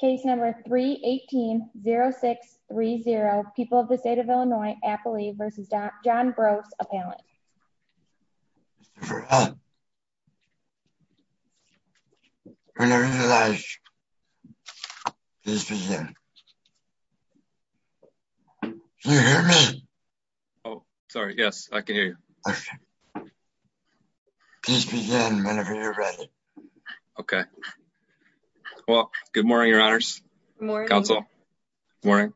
Case number 318-0630. People of the state of Illinois, Appalachia v. John Brose, appellant. Whenever you're live, please begin. Can you hear me? Oh, sorry. Yes, I can hear you. Perfect. Please begin whenever you're ready. Okay. Well, good morning, Your Honors. Counsel. Good morning.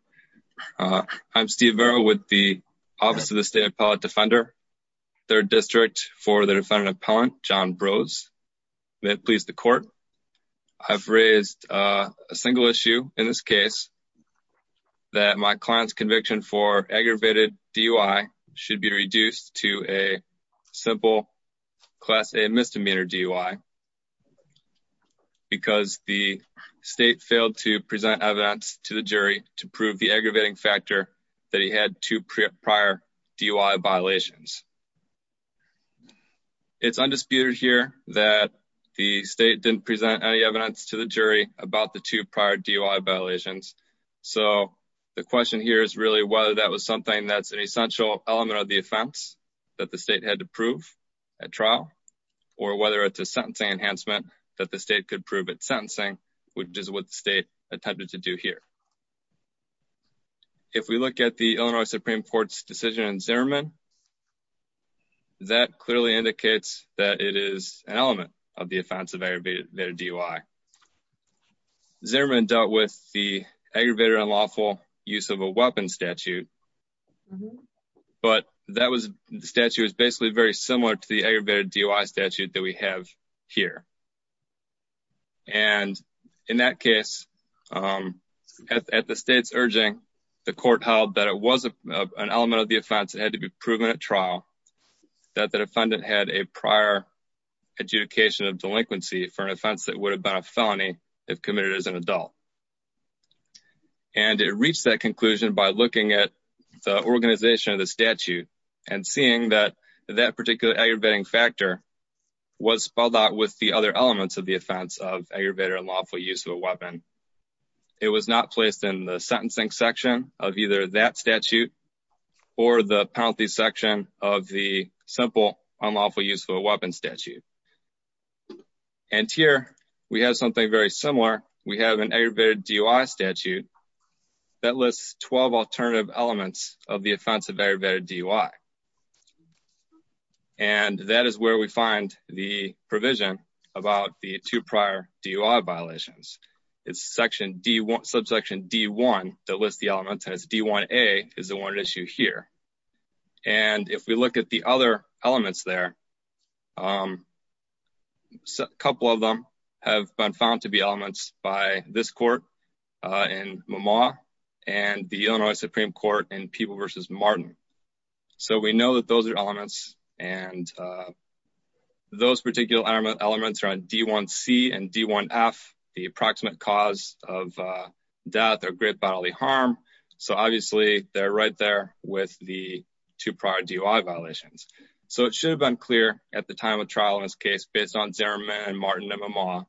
I'm Steve Vero with the Office of the State Appellate Defender, 3rd District, for the defendant appellant, John Brose. May it please the court, I've raised a single issue in this case, that my client's conviction for aggravated DUI should be reduced to a simple Class A misdemeanor DUI because the state failed to present evidence to the jury to prove the aggravating factor that he had two prior DUI violations. It's undisputed here that the state didn't present any evidence to the jury about the two prior DUI violations, so the question here is really whether that was something that's an essential element of the offense that the state had to prove at trial, or whether it's a sentencing enhancement that the state could prove at sentencing, which is what the state attempted to do here. If we look at the Illinois Supreme Court's decision in Zimmerman, that clearly indicates that it is an element of the offense of aggravated DUI. Zimmerman dealt with the aggravated unlawful use of a weapon statute, but that was, the statute was basically very similar to the aggravated DUI statute that we have here. And in that case, at the state's urging, the court held that it was an element of the offense that had to be proven at trial, that the defendant had a prior adjudication of delinquency for an offense that would have been a felony if committed as an adult. And it reached that conclusion by looking at the organization of the statute and seeing that that particular aggravating factor was spelled out with the other elements of the offense of aggravated unlawful use of a weapon. It was not placed in the sentencing section of either that statute or the penalty section of the simple unlawful use of a weapon statute. And here, we have something very similar. We have an aggravated DUI statute that lists 12 alternative elements of the offense of aggravated DUI. And that is where we find the provision about the two prior DUI violations. It's section D1, subsection D1 that lists the elements as D1A is the one at issue here. And if we look at the other elements there, a couple of them have been found to be elements by this court in Memaw and the Illinois Supreme Court in People v. Martin. So we know that those are elements and those particular elements are on D1C and D1F, the approximate cause of death or grave bodily harm. So obviously, they're right with the two prior DUI violations. So it should have been clear at the time of trial in this case based on Zimmerman and Martin and Memaw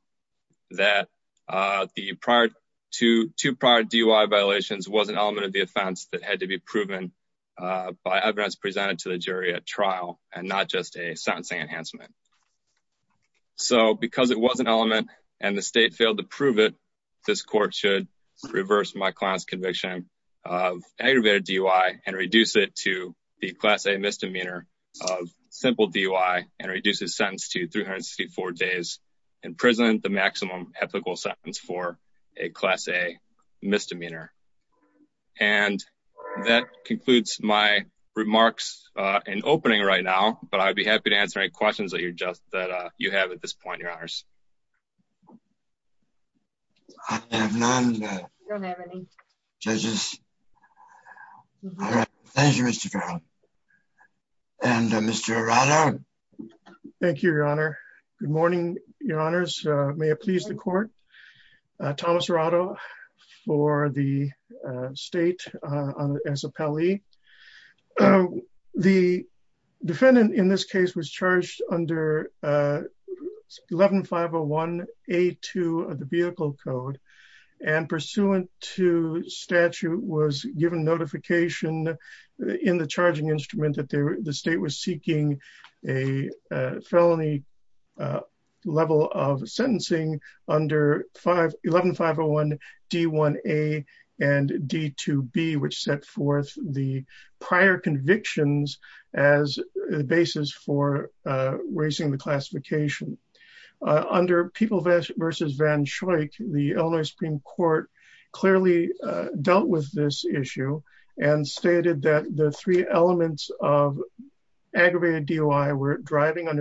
that the two prior DUI violations was an element of the offense that had to be proven by evidence presented to the jury at trial and not just a sentencing enhancement. So because it was an element and the state failed to prove it, this court should reverse my client's conviction of aggravated DUI and reduce it to the class A misdemeanor of simple DUI and reduce his sentence to 364 days, imprison the maximum ethical sentence for a class A misdemeanor. And that concludes my remarks in opening right now, but I'd be happy to answer any questions that you have at this point, your honors. I have none. Thank you, Mr. Farrell. And Mr. Arado. Thank you, your honor. Good morning, your honors. May it please the court. Thomas Arado for the state as appellee. The defendant in this case was charged under 11501A2 of the vehicle code and pursuant to statute was given notification in the charging instrument that the state was seeking a felony level of sentencing under 11501D1A and D2B, which set forth the prior convictions as the basis for raising the classification. Under People v. Van Schoik, the Illinois Supreme Court clearly dealt with this issue and stated that the three elements of aggravated DUI were driving while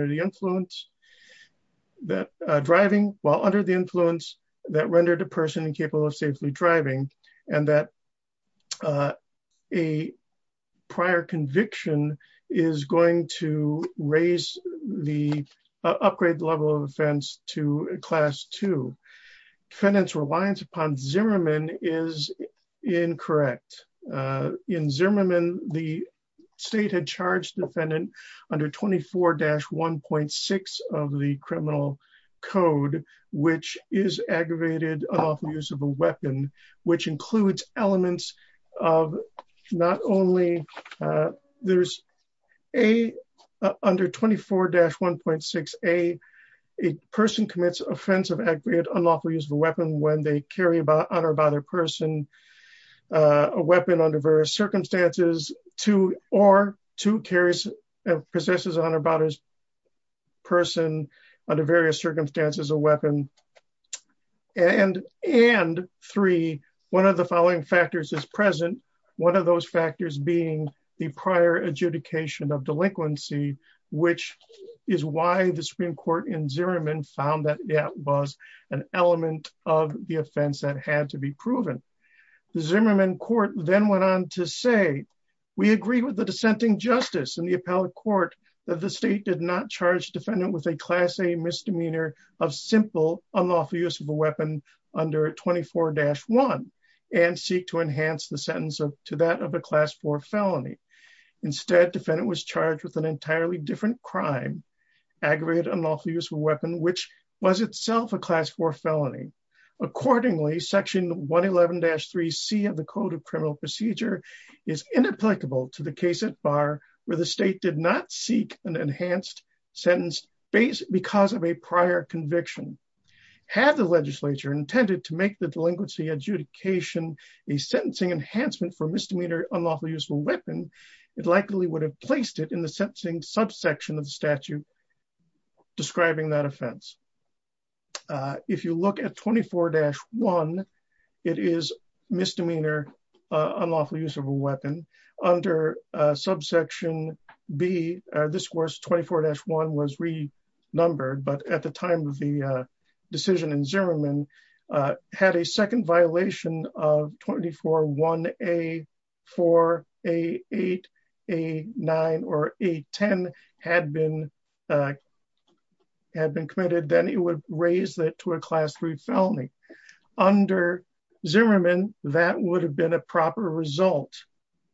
under the influence that rendered a person incapable of safely driving and that a prior conviction is going to raise the upgrade level of offense to class two. Defendant's reliance upon Zimmerman is incorrect. In Zimmerman, the state had charged defendant under 24-1.6 of the criminal code, which is aggravated unlawful use of a weapon, which includes elements of not only there's a under 24-1.6A, a person commits offensive aggregate unlawful use of a weapon when they carry about honor about a person, a weapon under various circumstances to or to carries possesses honor about his person under various circumstances, a weapon. And three, one of the following factors is present. One of those factors being the prior adjudication of delinquency, which is why the Supreme Court in Zimmerman found that that was an element of the offense that had to be proven. The Zimmerman court then went on to say, we agree with the dissenting justice and appellate court that the state did not charge defendant with a class A misdemeanor of simple unlawful use of a weapon under 24-1 and seek to enhance the sentence to that of a class four felony. Instead, defendant was charged with an entirely different crime, aggregate unlawful use of a weapon, which was itself a class four felony. Accordingly, section 111-3C of the code of did not seek an enhanced sentence based because of a prior conviction. Had the legislature intended to make the delinquency adjudication, a sentencing enhancement for misdemeanor unlawful use of a weapon, it likely would have placed it in the sentencing subsection of the statute describing that offense. If you look at 24-1, it is misdemeanor unlawful use of a weapon under subsection B. This was 24-1 was renumbered, but at the time of the decision in Zimmerman, had a second violation of 24-1A, 4A, 8A, 9, or 810 had been committed, then it would raise to a class three felony. Under Zimmerman, that would have been a proper result,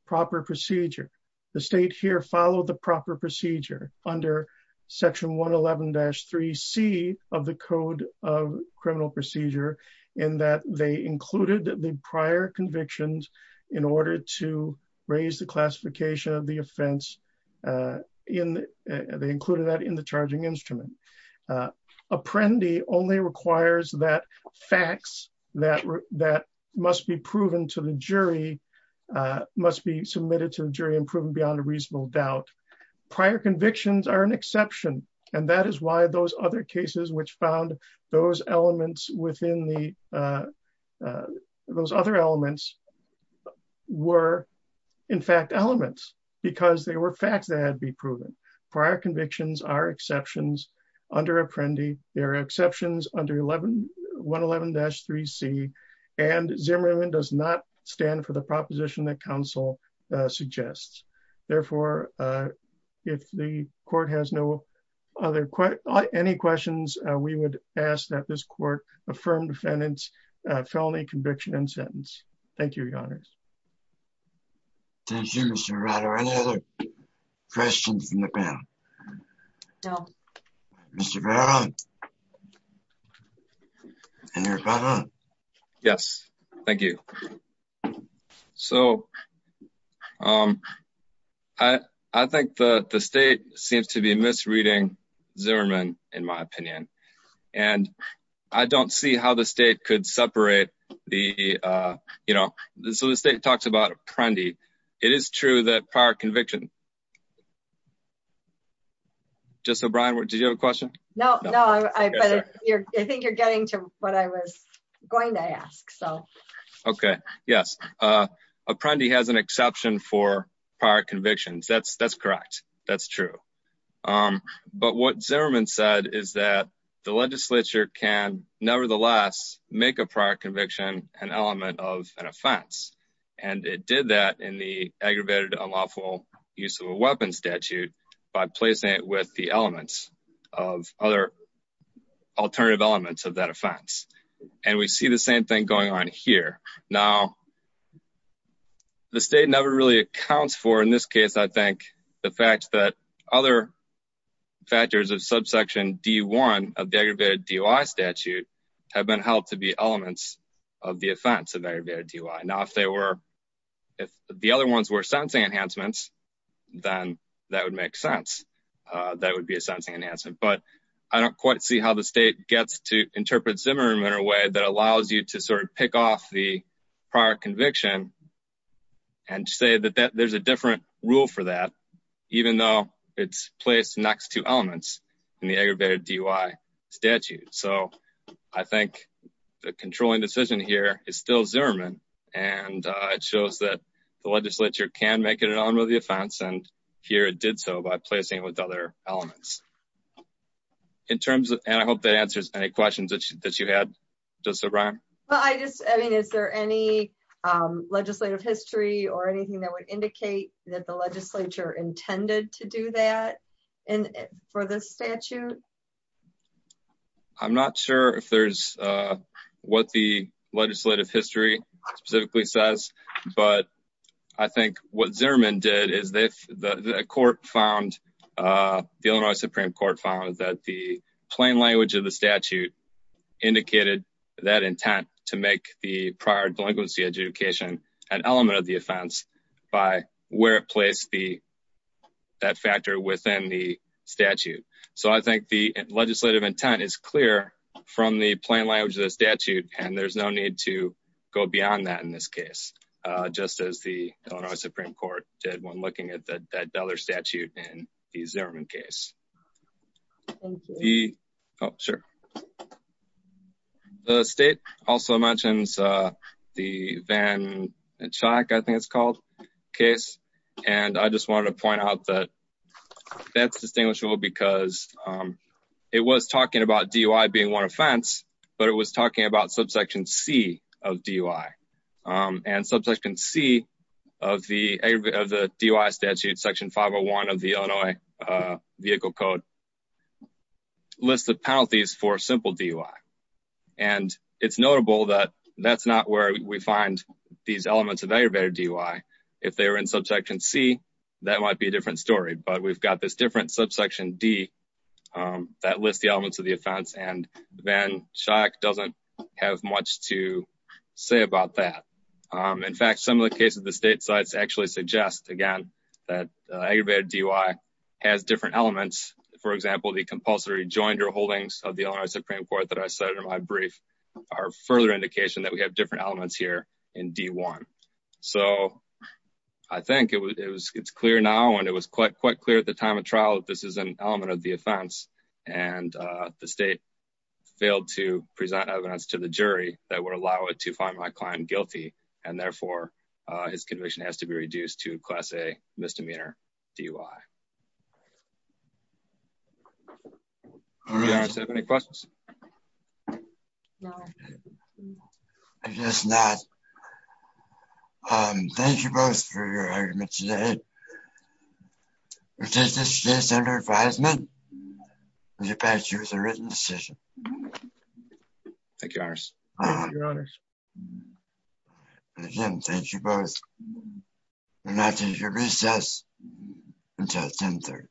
proper procedure. The state here followed the proper procedure under section 111-3C of the code of criminal procedure in that they included the prior convictions in order to raise the classification of the offense. They included that in the charging instrument. Apprendi only requires that facts that must be proven to the jury must be submitted to the jury and proven beyond a reasonable doubt. Prior convictions are an exception and that is why those other cases which found those elements within the, those other elements were in fact elements because they were facts that had to be proven. Prior convictions are exceptions under Apprendi. There are exceptions under 111-3C and Zimmerman does not stand for the proposition that council suggests. Therefore, if the court has no other, any questions, we would ask that this court affirm defendant's felony conviction and sentence. Thank you, your honors. Thank you, Mr. Verrato. Any other questions from the panel? No. Mr. Verrato? Yes, thank you. So, I think the state seems to be misreading Zimmerman, in my opinion, and I don't see how the state could separate the, you know, so the state talks about Apprendi. It is true that prior conviction, just so Brian, did you have a question? No, no, I think you're getting to what I was going to ask, so. Okay, yes, Apprendi has an exception for the legislature can nevertheless make a prior conviction an element of an offense, and it did that in the aggravated unlawful use of a weapon statute by placing it with the elements of other alternative elements of that offense, and we see the same thing going on here. Now, the state never really accounts for, in this case, I think, the fact that other factors of subsection D1 of the aggravated DUI statute have been held to be elements of the offense of aggravated DUI. Now, if they were, if the other ones were sentencing enhancements, then that would make sense. That would be a sentencing enhancement, but I don't quite see how the state gets to interpret Zimmerman in a way that allows you to sort of pick off the prior conviction and say that there's a DUI statute. So, I think the controlling decision here is still Zimmerman, and it shows that the legislature can make it an element of the offense, and here it did so by placing it with other elements. In terms of, and I hope that answers any questions that you had, Justice O'Brien. Well, I just, I mean, is there any legislative history or anything that would indicate that the legislature intended to do that for this statute? I'm not sure if there's what the legislative history specifically says, but I think what Zimmerman did is the court found, the Illinois Supreme Court found that the plain language of the statute indicated that intent to make the prior delinquency adjudication an element of the offense by where it placed that factor within the statute. So, I think the legislative intent is clear from the plain language of the statute, and there's no need to go beyond that in this case, just as the Illinois Supreme Court did when looking at that other statute in the Zimmerman case. The, oh, sure. The state also mentions the Van Chayk, I think it's called, case, and I just wanted to point out that that's distinguishable because it was talking about DUI being one offense, but it was talking about subsection C of DUI, and subsection C of the DUI statute, section 501 of the Illinois Vehicle Code, lists the penalties for simple DUI, and it's notable that that's not where we find these elements of aggravated DUI. If they were in subsection C, that might be a different story, but we've got this different subsection D that lists the elements of the offense, and Van Chayk doesn't have much to say about that. In fact, some of the cases the state sites actually suggest, again, that aggravated DUI has different elements. For example, the compulsory rejoinder holdings of the Illinois Supreme Court that I cited in my brief are further indication that we have different elements here in D1. So, I think it's clear now, and it was quite clear at the time of trial that this is an element of the offense, and the state failed to present evidence to the jury that would allow it to find my client guilty, and therefore his conviction has to be reduced to class A misdemeanor DUI. Do you guys have any questions? I guess not. Thank you both for your argument today. We take this case under advisement, and we pass you with a written decision. Thank you, your honors. Again, thank you both, and I'll take your recess until 10 30.